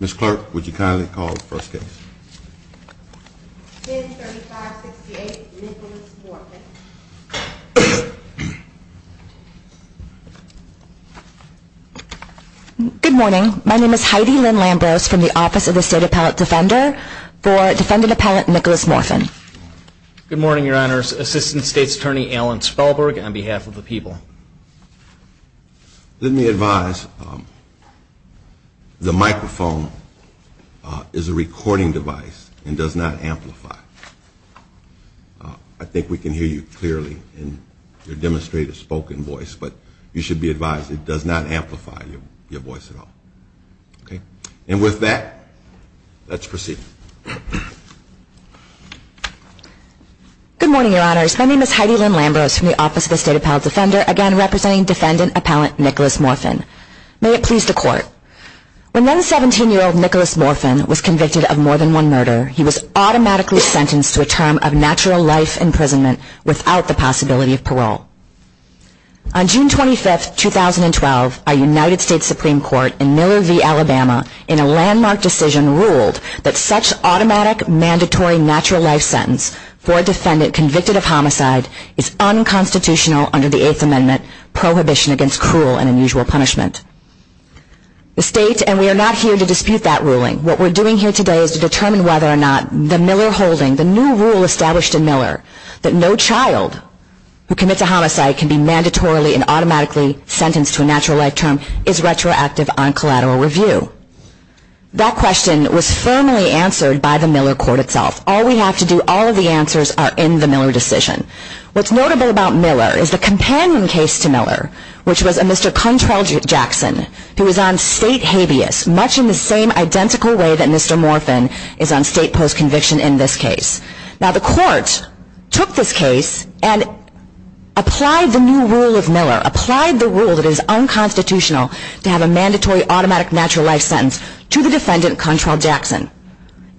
Ms. Clark, would you kindly call the first case? Good morning. My name is Heidi Lynn Lambros from the Office of the State Appellate Defender for defendant appellant Nicholas Morfin. Good morning your honors. Assistant State's Attorney Alan Spellberg on behalf of the people. Let me advise the microphone is a recording device and does not amplify. I think we can hear you clearly in your demonstrated spoken voice but you should be advised it does not amplify your voice at all. Okay and with that let's proceed. Good morning your honors. My name is Heidi Lynn Lambros from the Office of the State Appellate Defender for defendant appellant Nicholas Morfin. May it please the court. When then 17-year-old Nicholas Morfin was convicted of more than one murder he was automatically sentenced to a term of natural life imprisonment without the possibility of parole. On June 25th 2012 a United States Supreme Court in Miller v. Alabama in a landmark decision ruled that such automatic mandatory natural life sentence for defendant convicted of homicide is unconstitutional under the Fifth Amendment prohibition against cruel and unusual punishment. The state and we are not here to dispute that ruling. What we're doing here today is to determine whether or not the Miller holding, the new rule established in Miller that no child who commits a homicide can be mandatorily and automatically sentenced to a natural life term is retroactive on collateral review. That question was firmly answered by the Miller court itself. All we have to do, all of the answers are in the Miller decision. What's notable about Miller is the companionship with the State Appellate Defender for defendant appellant Nicholas Morfin. There was a second case to Miller which was a Mr. Contrell Jackson who was on state habeas much in the same identical way that Mr. Morfin is on state post conviction in this case. Now the court took this case and applied the new rule of Miller, applied the rule that is unconstitutional to have a mandatory automatic natural life sentence to the defendant Contrell Jackson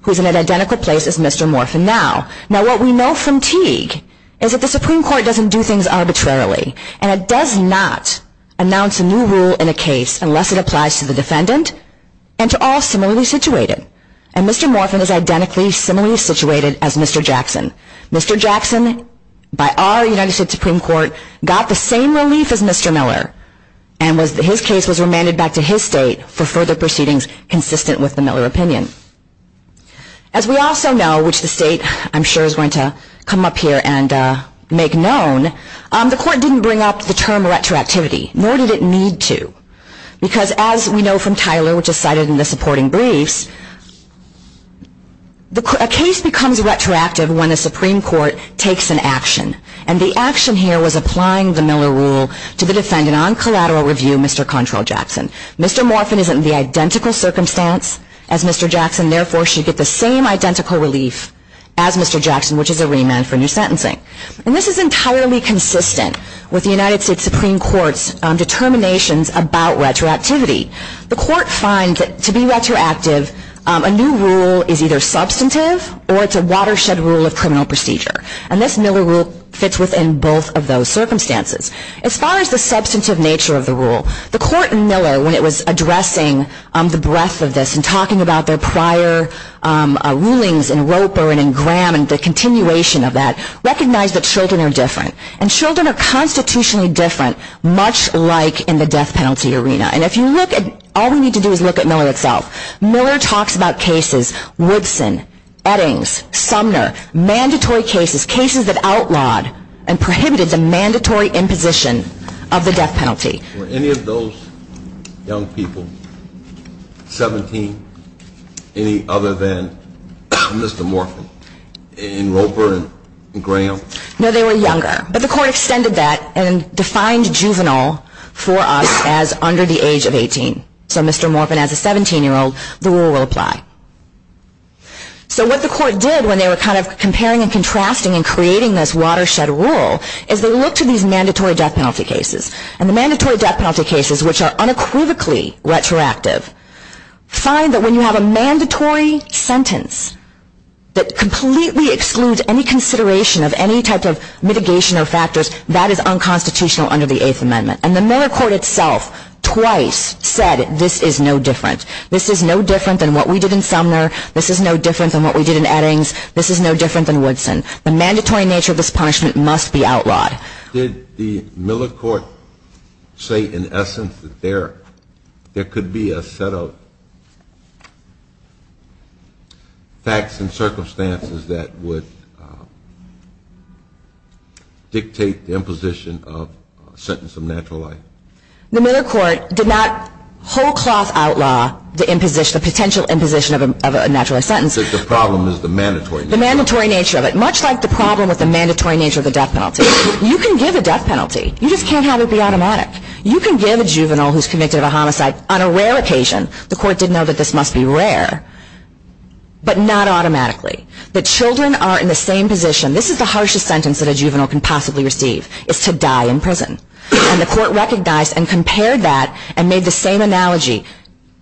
who is in an identical place as Mr. Morfin now. Now what we know from Teague is that the Supreme Court doesn't do things arbitrarily. And it does not announce a new rule in a case unless it applies to the defendant and to all similarly situated. And Mr. Morfin is identically similarly situated as Mr. Jackson. Mr. Jackson by our United States Supreme Court got the same relief as Mr. Miller and his case was remanded back to his state for further proceedings consistent with the Miller opinion. As we also know, which the state I'm sure is going to come up here and make known, the court didn't bring up the term retroactivity, nor did it need to. Because as we know from Tyler which is cited in the supporting briefs, a case becomes retroactive when the Supreme Court takes an action. And the action here was applying the Miller rule to the defendant on collateral review Mr. Contrell Jackson. Mr. Morfin is in the identical circumstance as Mr. Jackson therefore should get the same identical relief as Mr. Jackson which is a remand for new sentencing. And this is entirely consistent with the United States Supreme Court's determinations about retroactivity. The court finds that to be retroactive a new rule is either substantive or it's a watershed rule of criminal procedure. And this Miller rule fits within both of those circumstances. As far as the substantive nature of the rule, the court in Miller when it was addressing the breadth of this and talking about their prior rulings in Roper and in Graham and the continuation of that recognized that children are different. And children are constitutionally different much like in the death penalty arena. And if you look at, all we need to do is look at Miller itself. Miller talks about cases, Woodson, Eddings, Sumner, mandatory cases, cases that outlawed and prohibited the mandatory imposition of the death penalty. Were any of those young people 17 any other than Mr. Morfin in Roper and Graham? No, they were younger. But the court extended that and defined juvenile for us as under the age of 18. So Mr. Morfin as a 17-year-old, the rule will apply. So what the court did when they were kind of comparing and contrasting and creating this watershed rule is they looked at these mandatory death penalty cases. And the mandatory death penalty cases which are unequivocally retroactive find that when you have a mandatory sentence that completely excludes any consideration of any type of mitigation or factors, that is unconstitutional under the Eighth Amendment. And the Miller court itself twice said this is no different. This is no different than what we did in Sumner. This is no different than what we did in Eddings. This is no different than Woodson. The mandatory nature of this punishment must be outlawed. Did the Miller court say in essence that there could be a set of facts and circumstances that would dictate the imposition of a sentence of natural life? The Miller court did not whole cloth outlaw the imposition, the potential imposition of a natural life sentence. The mandatory nature of it. Much like the problem with the mandatory nature of the death penalty. You can give a death penalty. You just can't have it be automatic. You can give a juvenile who is convicted of a homicide on a rare occasion, the court did know that this must be rare, but not automatically. The children are in the same position. This is the harshest sentence that a juvenile can possibly receive, is to die in prison. And the court recognized and compared that and made the same analogy.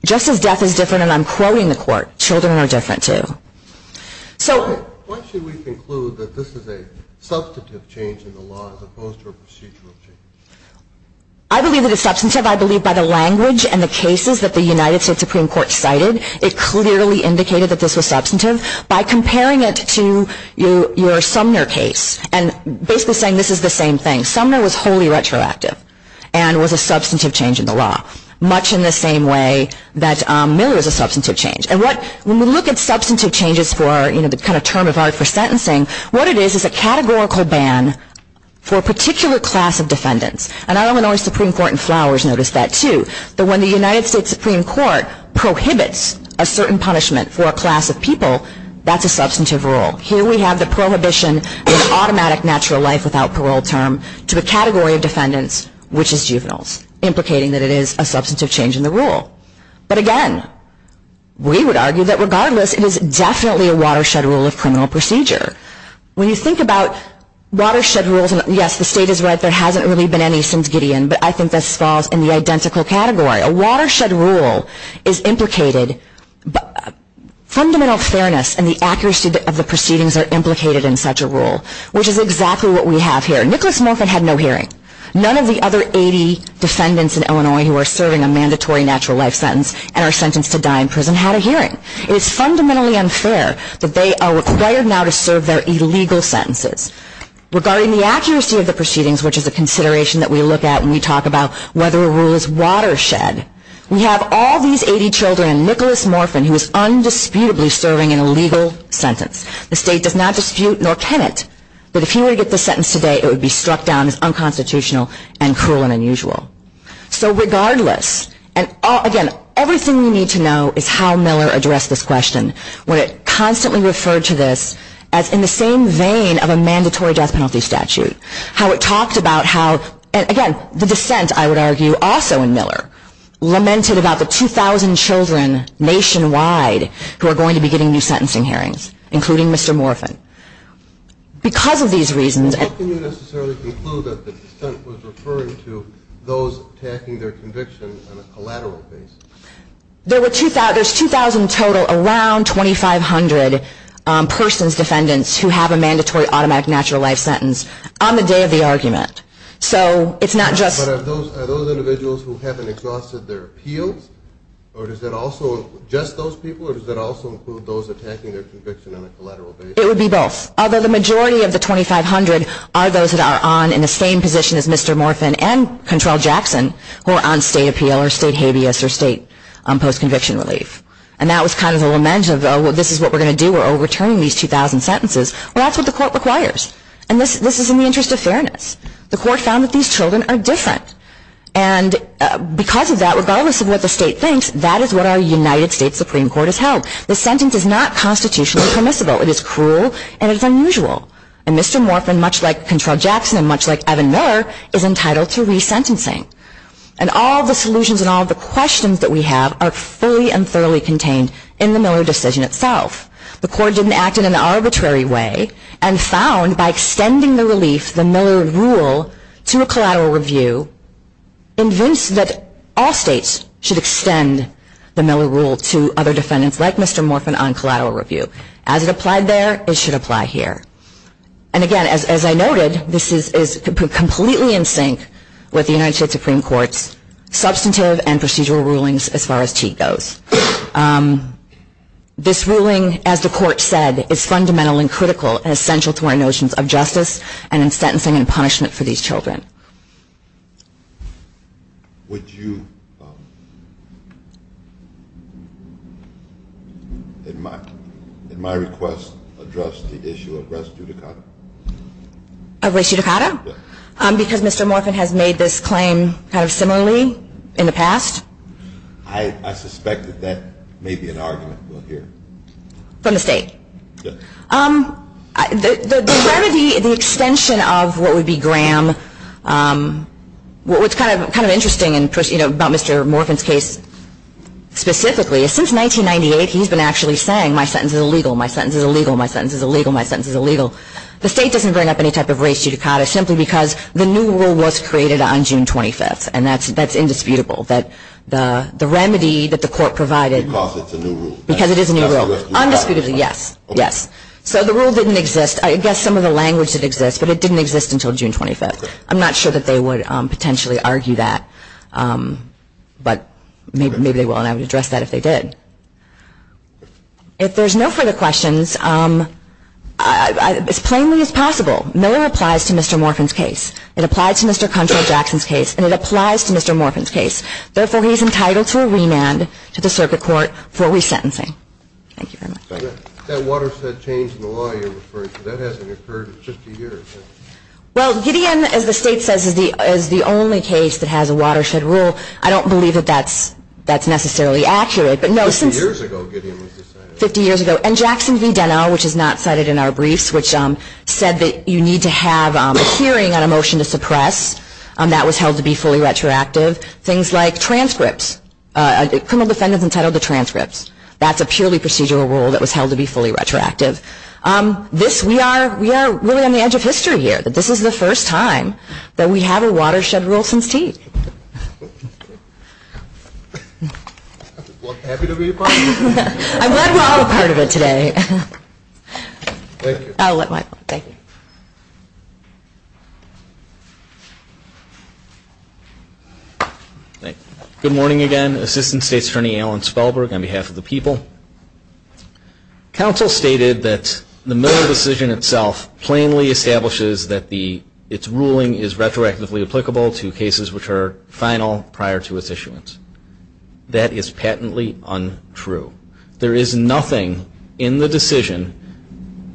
Just as death is different, and I'm quoting the court, children are different too. Why should we conclude that this is a substantive change in the law as opposed to a procedural change? I believe it is substantive. I believe by the language and the cases that the United States Supreme Court cited, it clearly indicated that this was substantive. By comparing it to your Sumner case and basically saying this is the same thing. Sumner was wholly retroactive and was a substantive change in the law. Much in the same way that Miller is a substantive change. And when we look at substantive changes for the term of art for sentencing, what it is is a categorical ban for a particular class of defendants. And I don't know if the Supreme Court in Flowers noticed that too, but when the United States Supreme Court prohibits a certain punishment for a class of people, that's a substantive rule. Here we have the prohibition of automatic natural life without parole term to a category of defendants, which is juveniles, implicating that it is a substantive change in the rule. But again, we would argue that regardless, it is definitely a watershed rule of criminal procedure. When you think about watershed rules, and yes, the state is right, there hasn't really been any since Gideon, but I think this falls in the identical category. A watershed rule is implicated, fundamental fairness and the accuracy of the proceedings are implicated in such a rule, which is exactly what we have here. Nicholas Moffitt had no hearing. None of the other 80 defendants in Illinois who are serving a mandatory natural life sentence and are sentenced to die in prison had a hearing. It is fundamentally unfair that they are required now to serve their illegal sentences. Regarding the accuracy of the proceedings, which is a consideration that we look at when we talk about whether a rule is watershed, we have all these 80 children and Nicholas Moffitt who is undisputably serving an illegal sentence. The state does not dispute, nor can it, that if he were to get the sentence today, it would be struck down as unconstitutional and cruel and unusual. So regardless, and again, everything you need to know is how Miller addressed this question, when it constantly referred to this as in the same vein of a mandatory death penalty statute. How it talked about how, and again, the dissent, I would argue, also in Miller, lamented about the 2,000 children nationwide who are going to be getting new sentencing hearings, including Mr. Moffitt. Because of these reasons... How can you necessarily conclude that the dissent was referring to those attacking their conviction on a collateral basis? There's 2,000 total, around 2,500 persons, defendants, who have a mandatory automatic natural life sentence on the day of the argument. So it's not just... But are those individuals who haven't exhausted their appeals, or does that also include just those people, or does that also include those attacking their conviction on a collateral basis? It would be both. Although the majority of the 2,500 are those that are on in the same position as Mr. Moffitt and Control Jackson, who are on state appeal or state habeas or state post-conviction relief. And that was kind of the lament of, oh, this is what we're going to do, we're overturning these 2,000 sentences. Well, that's what the court requires. And this is in the interest of fairness. The court found that these children are different. And because of that, regardless of what the state thinks, that is what our United States Supreme Court has held. The sentence is not constitutionally permissible. It is cruel and it is unusual. And Mr. Moffitt, much like Control Jackson and much like Evan Miller, is entitled to resentencing. And all the solutions and all the questions that we have are fully and thoroughly contained in the Miller decision itself. The court didn't act in an arbitrary way and found, by extending the relief, the Miller rule, to a collateral review, to convince that all states should extend the Miller rule to other defendants like Mr. Moffitt on collateral review. As it applied there, it should apply here. And again, as I noted, this is completely in sync with the United States Supreme Court's substantive and procedural rulings as far as TEA goes. This ruling, as the court said, is fundamental and critical and essential to our notions of justice and in sentencing and punishment for these children. Would you, in my request, address the issue of res judicata? Of res judicata? Yes. Because Mr. Moffitt has made this claim kind of similarly in the past. I suspect that that may be an argument we'll hear. From the state? Yes. The extension of what would be Graham, what's kind of interesting about Mr. Moffitt's case specifically, is since 1998 he's been actually saying, my sentence is illegal, my sentence is illegal, my sentence is illegal, my sentence is illegal. The state doesn't bring up any type of res judicata simply because the new rule was created on June 25th, and that's indisputable. The remedy that the court provided. Because it's a new rule. Because it is a new rule. Undisputably, yes. Yes. So the rule didn't exist. I guess some of the language did exist, but it didn't exist until June 25th. I'm not sure that they would potentially argue that, but maybe they will, and I would address that if they did. If there's no further questions, as plainly as possible, Miller applies to Mr. Moffitt's case. It applies to Mr. Cuntrell-Jackson's case, and it applies to Mr. Morfin's case. Therefore, he's entitled to a remand to the circuit court for resentencing. Thank you very much. That watershed change in the law you're referring to, that hasn't occurred in 50 years, has it? Well, Gideon, as the state says, is the only case that has a watershed rule. I don't believe that that's necessarily accurate. 50 years ago Gideon was decided. 50 years ago. And Jackson v. Deno, which is not cited in our briefs, which said that you need to have a hearing on a motion to suppress. That was held to be fully retroactive. Things like transcripts. A criminal defendant is entitled to transcripts. That's a purely procedural rule that was held to be fully retroactive. We are really on the edge of history here. This is the first time that we have a watershed rule since Tate. Well, happy to be a part of it. I'm glad we're all a part of it today. Thank you. I'll let Michael. Thank you. Good morning again. Assistant State's Attorney Alan Spellberg on behalf of the people. Counsel stated that the Miller decision itself plainly establishes that its ruling is retroactively applicable to cases which are final prior to its issuance. That is patently untrue. There is nothing in the decision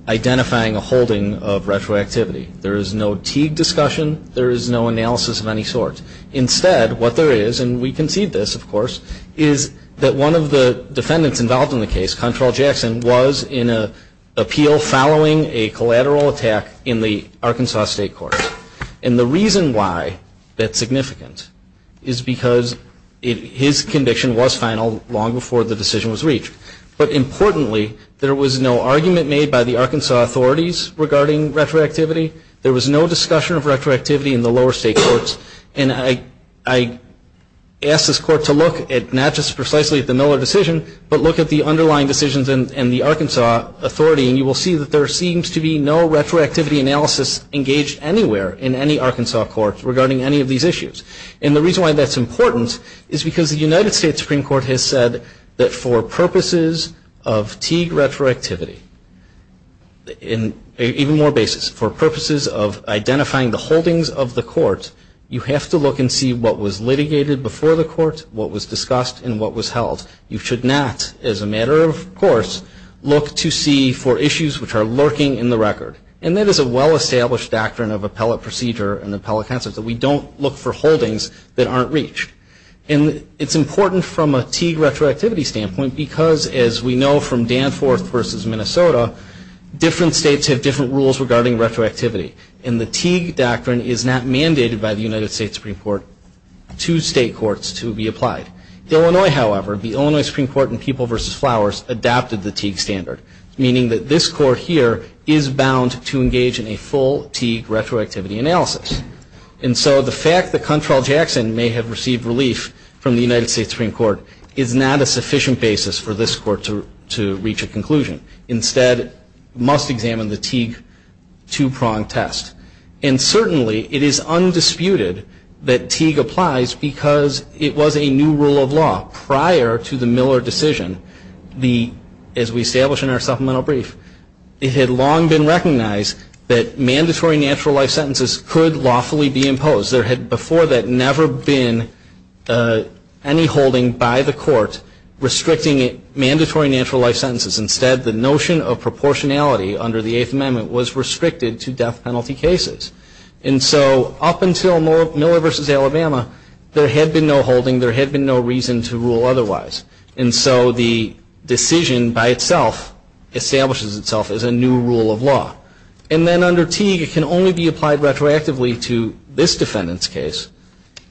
identifying a holding of retroactivity. There is no Teague discussion. There is no analysis of any sort. Instead, what there is, and we concede this, of course, is that one of the defendants involved in the case, Control Jackson, was in an appeal following a collateral attack in the Arkansas State Court. And the reason why that's significant is because his conviction was final long before the decision was reached. But importantly, there was no argument made by the Arkansas authorities regarding retroactivity. There was no discussion of retroactivity in the lower state courts. And I asked this court to look at not just precisely at the Miller decision, but look at the underlying decisions in the Arkansas authority. And you will see that there seems to be no retroactivity analysis engaged anywhere in any Arkansas court regarding any of these issues. And the reason why that's important is because the United States Supreme Court has said that for purposes of Teague identifying the holdings of the court, you have to look and see what was litigated before the court, what was discussed, and what was held. You should not, as a matter of course, look to see for issues which are lurking in the record. And that is a well-established doctrine of appellate procedure and appellate counsel, that we don't look for holdings that aren't reached. And it's important from a Teague retroactivity standpoint because, as we know from Danforth versus Minnesota, different states have different rules regarding retroactivity. And the Teague doctrine is not mandated by the United States Supreme Court to state courts to be applied. Illinois, however, the Illinois Supreme Court in People versus Flowers adopted the Teague standard, meaning that this court here is bound to engage in a full Teague retroactivity analysis. And so the fact that Control Jackson may have received relief from the United States Supreme Court is not a sufficient basis for this court to reach a conclusion. Instead, it must examine the Teague two-prong test. And certainly it is undisputed that Teague applies because it was a new rule of law prior to the Miller decision. As we established in our supplemental brief, it had long been recognized that mandatory natural life sentences could lawfully be imposed. There had before that never been any holding by the court restricting mandatory natural life sentences. Instead, the notion of proportionality under the Eighth Amendment was restricted to death penalty cases. And so up until Miller versus Alabama, there had been no holding. There had been no reason to rule otherwise. And so the decision by itself establishes itself as a new rule of law. And then under Teague, it can only be applied retroactively to this defendant's case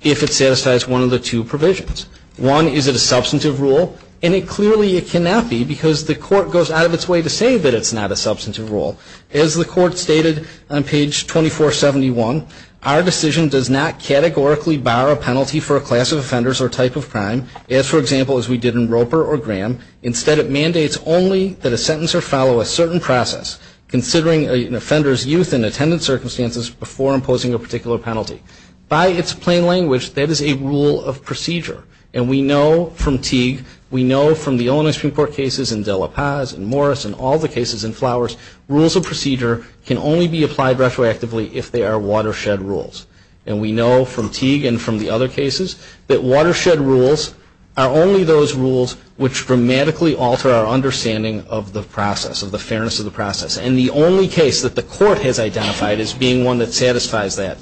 if it satisfies one of the two provisions. One, is it a substantive rule? And clearly it cannot be because the court goes out of its way to say that it's not a substantive rule. As the court stated on page 2471, our decision does not categorically bar a penalty for a class of offenders or type of crime, as, for example, as we did in Roper or Graham. Instead, it mandates only that a sentencer follow a certain process, considering an offender's youth and attendance circumstances before imposing a particular penalty. By its plain language, that is a rule of procedure. And we know from Teague, we know from the Illinois Supreme Court cases, and De La Paz, and Morris, and all the cases in Flowers, rules of procedure can only be applied retroactively if they are watershed rules. And we know from Teague and from the other cases, that watershed rules are only those rules which dramatically alter our understanding of the process, of the fairness of the process. And the only case that the court has identified as being one that satisfies that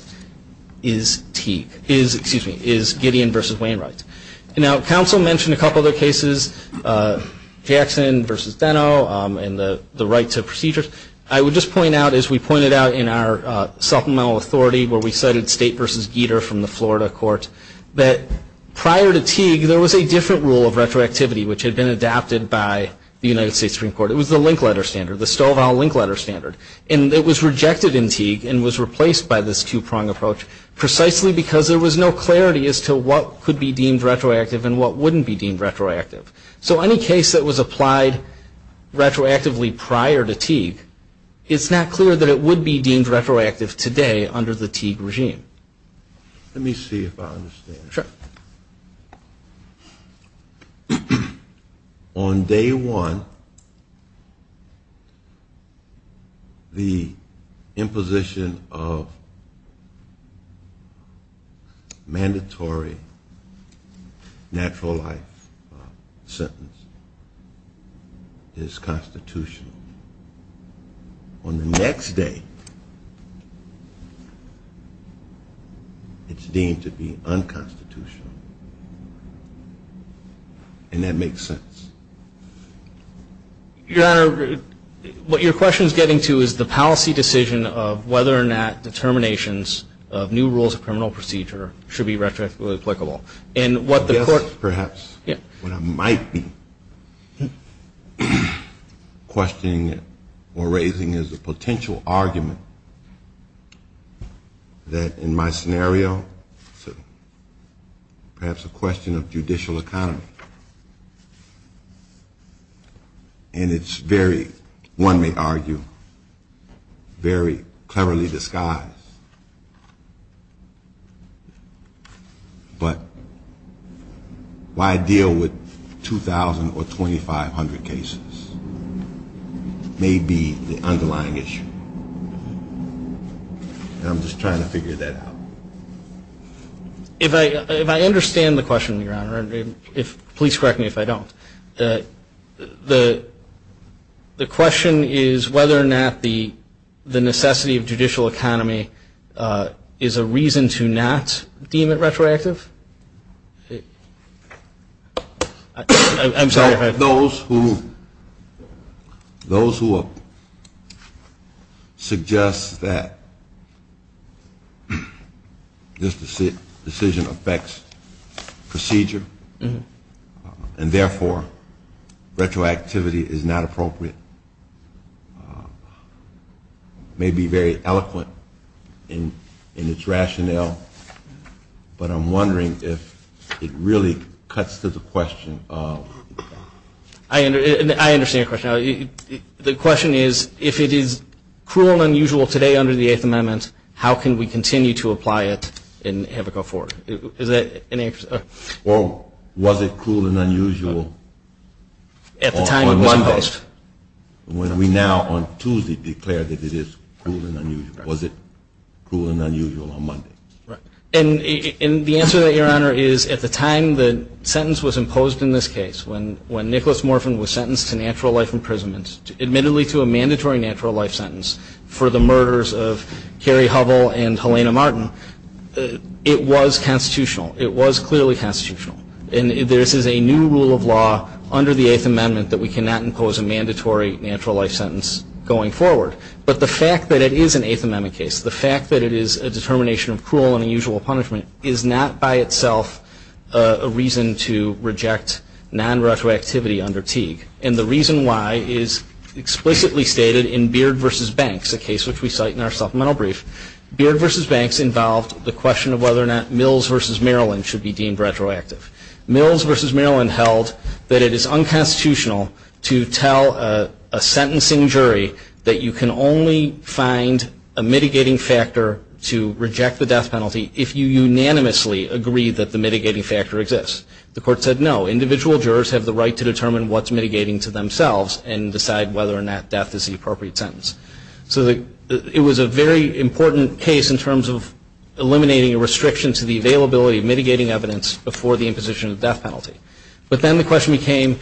is Teague, is, excuse me, is Gideon v. Wainwright. Now, counsel mentioned a couple other cases, Jackson v. Deno, and the right to procedures. I would just point out, as we pointed out in our supplemental authority, where we cited State v. Gieter from the Florida court, that prior to Teague, there was a different rule of retroactivity, which had been adopted by the United States Supreme Court. It was the link letter standard, the Stovall link letter standard. And it was rejected in Teague and was replaced by this two-prong approach, precisely because there was no clarity as to what could be deemed retroactive and what wouldn't be deemed retroactive. So any case that was applied retroactively prior to Teague, it's not clear that it would be deemed retroactive today under the Teague regime. Let me see if I understand. Sure. On day one, the imposition of mandatory natural life sentence is constitutional. On the next day, it's deemed to be unconstitutional. And that makes sense. Your Honor, what your question is getting to is the policy decision of whether or not determinations of new rules of criminal procedure should be retroactively applicable. I guess perhaps what I might be questioning or raising is a potential argument that in my scenario, perhaps a question of judicial economy. And it's very, one may argue, very cleverly disguised. But why deal with 2,000 or 2,500 cases may be the underlying issue. And I'm just trying to figure that out. If I understand the question, Your Honor, please correct me if I don't. The question is whether or not the necessity of judicial economy is a reason to not deem it retroactive. I'm sorry. Those who suggest that this decision affects procedure and therefore retroactivity is not appropriate may be very eloquent in its rationale. But I'm wondering if it really cuts to the question of. I understand your question. The question is if it is cruel and unusual today under the Eighth Amendment, how can we continue to apply it and have it go forward? Or was it cruel and unusual on Monday? When we now on Tuesday declare that it is cruel and unusual. Was it cruel and unusual on Monday? And the answer to that, Your Honor, is at the time the sentence was imposed in this case, when Nicholas Morphin was sentenced to natural life imprisonment, admittedly to a mandatory natural life sentence for the murders of Carrie Hovell and Helena Martin, it was constitutional. It was clearly constitutional. And this is a new rule of law under the Eighth Amendment that we cannot impose a mandatory natural life sentence going forward. But the fact that it is an Eighth Amendment case, the fact that it is a determination of cruel and unusual punishment, is not by itself a reason to reject non-retroactivity under Teague. And the reason why is explicitly stated in Beard v. Banks, a case which we cite in our supplemental brief. Beard v. Banks involved the question of whether or not Mills v. Maryland should be deemed retroactive. Mills v. Maryland held that it is unconstitutional to tell a sentencing jury that you can only find a mitigating factor to reject the death penalty if you unanimously agree that the mitigating factor exists. The court said no. Individual jurors have the right to determine what's mitigating to themselves and decide whether or not death is the appropriate sentence. So it was a very important case in terms of eliminating a restriction to the availability of mitigating evidence before the imposition of death penalty. But then the question became,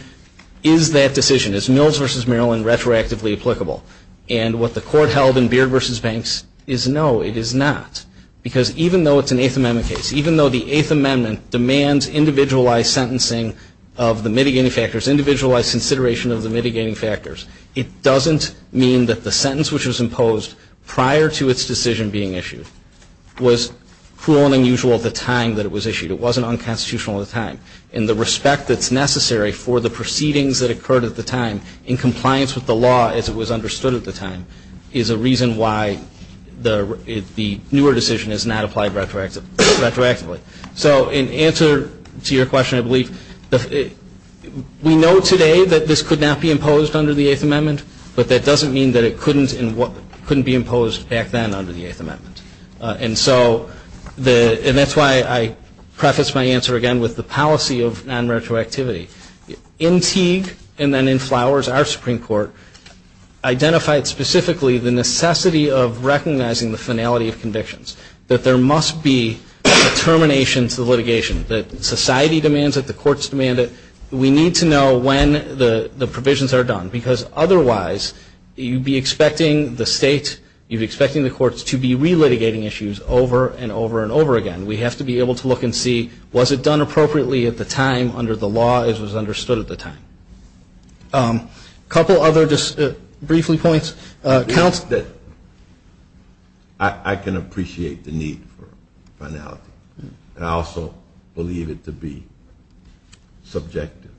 is that decision, is Mills v. Maryland retroactively applicable? And what the court held in Beard v. Banks is no, it is not. Because even though it's an Eighth Amendment case, even though the Eighth Amendment demands individualized sentencing of the mitigating factors, individualized consideration of the mitigating factors, it doesn't mean that the sentence which was imposed prior to its decision being issued was cruel and unusual at the time that it was issued. It wasn't unconstitutional at the time. And the respect that's necessary for the proceedings that occurred at the time in compliance with the law as it was understood at the time is a reason why the newer decision is not applied retroactively. So in answer to your question, I believe, we know today that this could not be imposed under the Eighth Amendment, but that doesn't mean that it couldn't be imposed back then under the Eighth Amendment. And so that's why I preface my answer again with the policy of non-retroactivity. In Teague and then in Flowers, our Supreme Court identified specifically the necessity of recognizing the finality of convictions, that there must be a termination to the litigation, that society demands it, the courts demand it. We need to know when the provisions are done, because otherwise you'd be expecting the state, you'd be expecting the courts, to be relitigating issues over and over and over again. We have to be able to look and see, was it done appropriately at the time under the law as was understood at the time? A couple other just briefly points. I can appreciate the need for finality, and I also believe it to be subjective.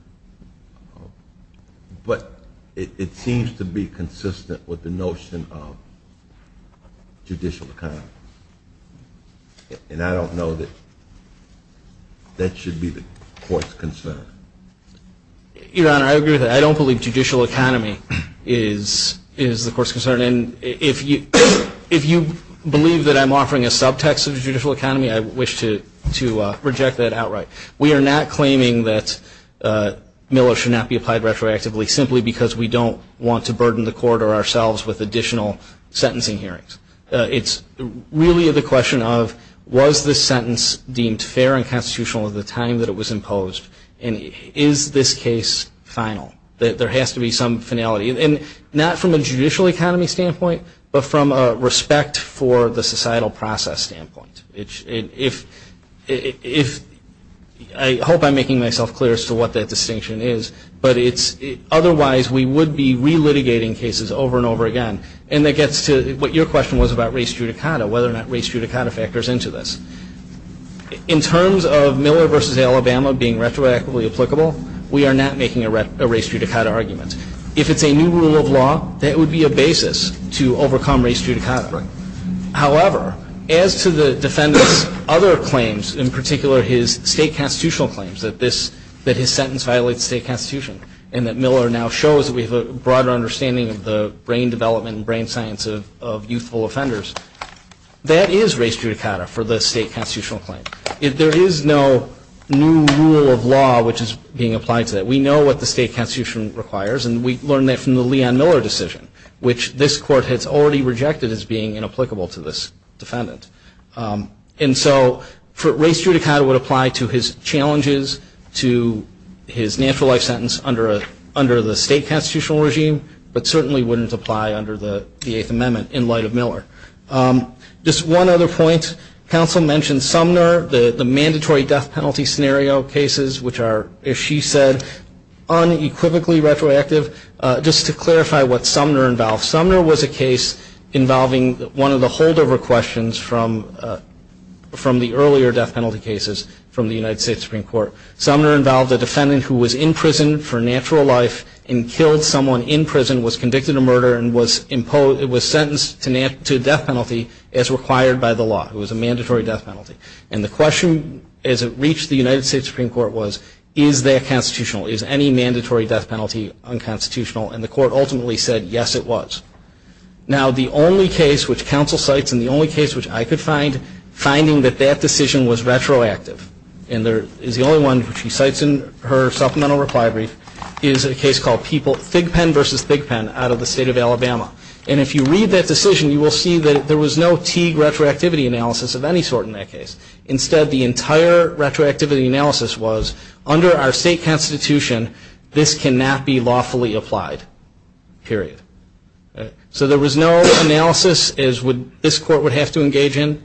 But it seems to be consistent with the notion of judicial economy. And I don't know that that should be the court's concern. Your Honor, I agree with that. I don't believe judicial economy is the court's concern. And if you believe that I'm offering a subtext of judicial economy, I wish to reject that outright. We are not claiming that Miller should not be applied retroactively simply because we don't want to burden the court or ourselves with additional sentencing hearings. It's really the question of, was the sentence deemed fair and constitutional at the time that it was imposed? And is this case final? There has to be some finality. And not from a judicial economy standpoint, but from a respect for the societal process standpoint. I hope I'm making myself clear as to what that distinction is, but otherwise we would be relitigating cases over and over again. And that gets to what your question was about race judicata, whether or not race judicata factors into this. In terms of Miller v. Alabama being retroactively applicable, we are not making a race judicata argument. If it's a new rule of law, that would be a basis to overcome race judicata. However, as to the defendant's other claims, in particular his state constitutional claims, that his sentence violates state constitution, and that Miller now shows we have a broader understanding of the brain development and brain science of youthful offenders, that is race judicata for the state constitutional claim. There is no new rule of law which is being applied to that. We know what the state constitution requires, and we learned that from the Leon Miller decision, which this court has already rejected as being inapplicable to this defendant. And so race judicata would apply to his challenges to his natural life sentence under the state constitutional regime, but certainly wouldn't apply under the Eighth Amendment in light of Miller. Just one other point. Counsel mentioned Sumner, the mandatory death penalty scenario cases, which are, as she said, unequivocally retroactive. Just to clarify what Sumner involved. Sumner was a case involving one of the holdover questions from the earlier death penalty cases from the United States Supreme Court. Sumner involved a defendant who was in prison for natural life and killed someone in prison, was convicted of murder, and was sentenced to death penalty as required by the law. It was a mandatory death penalty. And the question as it reached the United States Supreme Court was, is that constitutional? Is any mandatory death penalty unconstitutional? And the court ultimately said, yes, it was. Now the only case which counsel cites, and the only case which I could find finding that that decision was retroactive, and is the only one which she cites in her supplemental reply brief, is a case called Fig Pen versus Big Pen out of the state of Alabama. And if you read that decision, you will see that there was no Teague retroactivity analysis of any sort in that case. Instead, the entire retroactivity analysis was, under our state constitution, this cannot be lawfully applied, period. So there was no analysis as this court would have to engage in,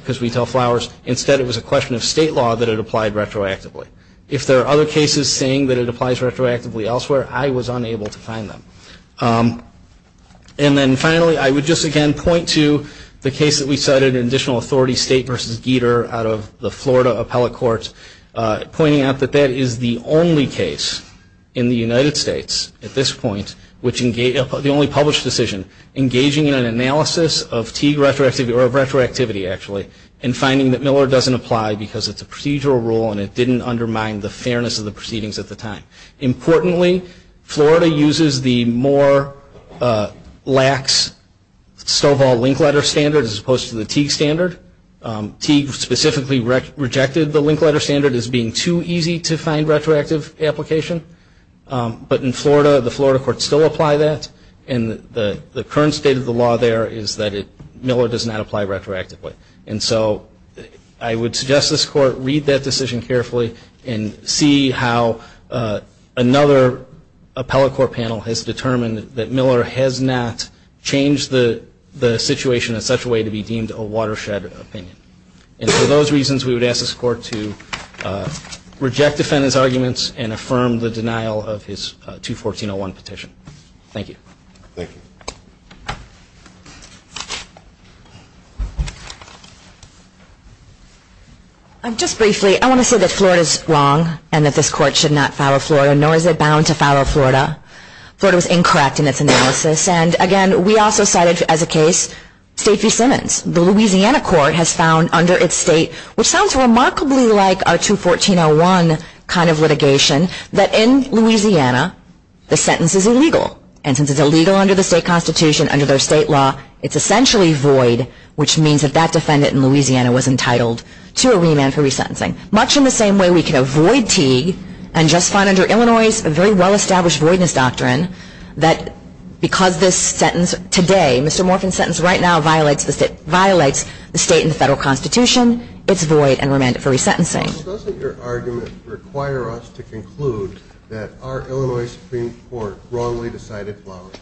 because we tell flowers. Instead, it was a question of state law that it applied retroactively. If there are other cases saying that it applies retroactively elsewhere, I was unable to find them. And then finally, I would just again point to the case that we cited in additional authority, State versus Gieter, out of the Florida appellate court, pointing out that that is the only case in the United States at this point, the only published decision, engaging in an analysis of Teague retroactivity, actually, and finding that Miller doesn't apply because it's a procedural rule and it didn't undermine the fairness of the proceedings at the time. Importantly, Florida uses the more lax Stovall link letter standard as opposed to the Teague standard. Teague specifically rejected the link letter standard as being too easy to find retroactive application. But in Florida, the Florida courts still apply that. And the current state of the law there is that Miller does not apply retroactively. And so I would suggest this court read that decision carefully and see how another appellate court panel has determined that Miller has not changed the situation in such a way to be deemed a watershed opinion. And for those reasons, we would ask this court to reject defendant's arguments and affirm the denial of his 214-01 petition. Thank you. Thank you. Just briefly, I want to say that Florida is wrong and that this court should not follow Florida, nor is it bound to follow Florida. Florida was incorrect in its analysis. And again, we also cited as a case Stacey Simmons. The Louisiana court has found under its state, which sounds remarkably like our 214-01 kind of litigation, that in Louisiana the sentence is illegal. And since it's illegal under the state constitution, under their state law, it's essentially void, which means that that defendant in Louisiana was entitled to a remand for resentencing. Much in the same way we can avoid Teague and just find under Illinois' very well-established voidness doctrine that because this sentence today, Mr. Morphin's sentence right now, violates the state and the federal constitution, it's void and remanded for resentencing. Doesn't your argument require us to conclude that our Illinois Supreme Court wrongly decided Flowers?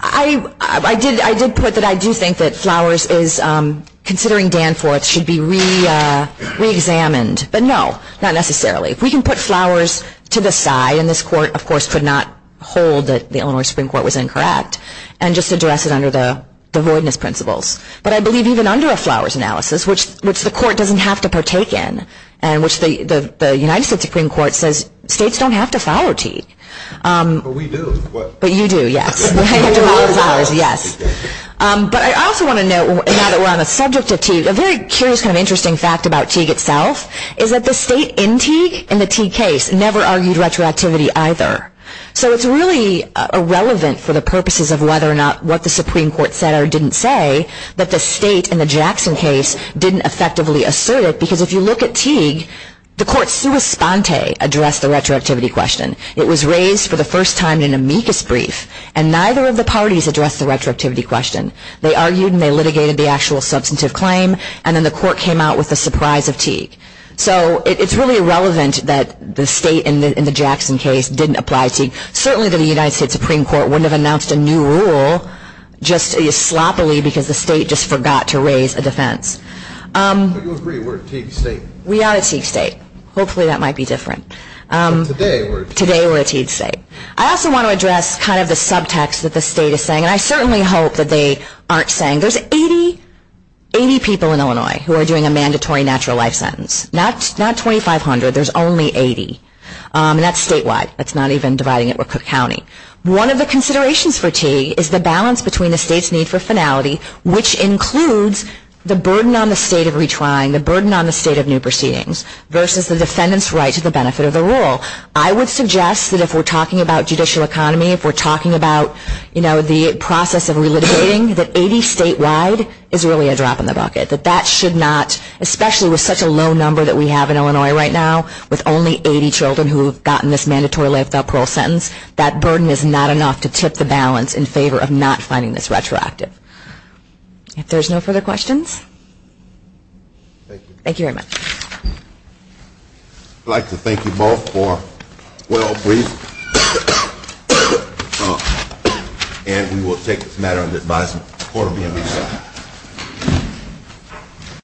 I did put that I do think that Flowers is, considering Danforth, should be reexamined. But no, not necessarily. We can put Flowers to the side, and this court, of course, could not hold that the Illinois Supreme Court was incorrect and just address it under the voidness principles. But I believe even under a Flowers analysis, which the court doesn't have to partake in, and which the United States Supreme Court says states don't have to follow Teague. But we do. But you do, yes. We have to follow Flowers, yes. But I also want to note, now that we're on the subject of Teague, a very curious kind of interesting fact about Teague itself is that the state in Teague in the Teague case never argued retroactivity either. So it's really irrelevant for the purposes of whether or not what the Supreme Court said or didn't say that the state in the Jackson case didn't effectively assert it. Because if you look at Teague, the court sua sponte addressed the retroactivity question. It was raised for the first time in an amicus brief, and neither of the parties addressed the retroactivity question. They argued and they litigated the actual substantive claim, and then the court came out with the surprise of Teague. So it's really irrelevant that the state in the Jackson case didn't apply Teague. Certainly the United States Supreme Court wouldn't have announced a new rule just sloppily because the state just forgot to raise a defense. Do you agree we're a Teague state? We are a Teague state. Hopefully that might be different. Today we're a Teague state. I also want to address kind of the subtext that the state is saying, and I certainly hope that they aren't saying. There's 80 people in Illinois who are doing a mandatory natural life sentence. Not 2,500. There's only 80. And that's statewide. That's not even dividing it. We're Cook County. One of the considerations for Teague is the balance between the state's need for finality, which includes the burden on the state of retrying, the burden on the state of new proceedings, versus the defendant's right to the benefit of the rule. I would suggest that if we're talking about judicial economy, if we're talking about, you know, the process of relitigating, that 80 statewide is really a drop in the bucket. That that should not, especially with such a low number that we have in Illinois right now, with only 80 children who have gotten this mandatory life without parole sentence, that burden is not enough to tip the balance in favor of not finding this retroactive. If there's no further questions. Thank you. Thank you very much. I'd like to thank you both for a well brief. And we will take this matter under advisement. Court will be in recess.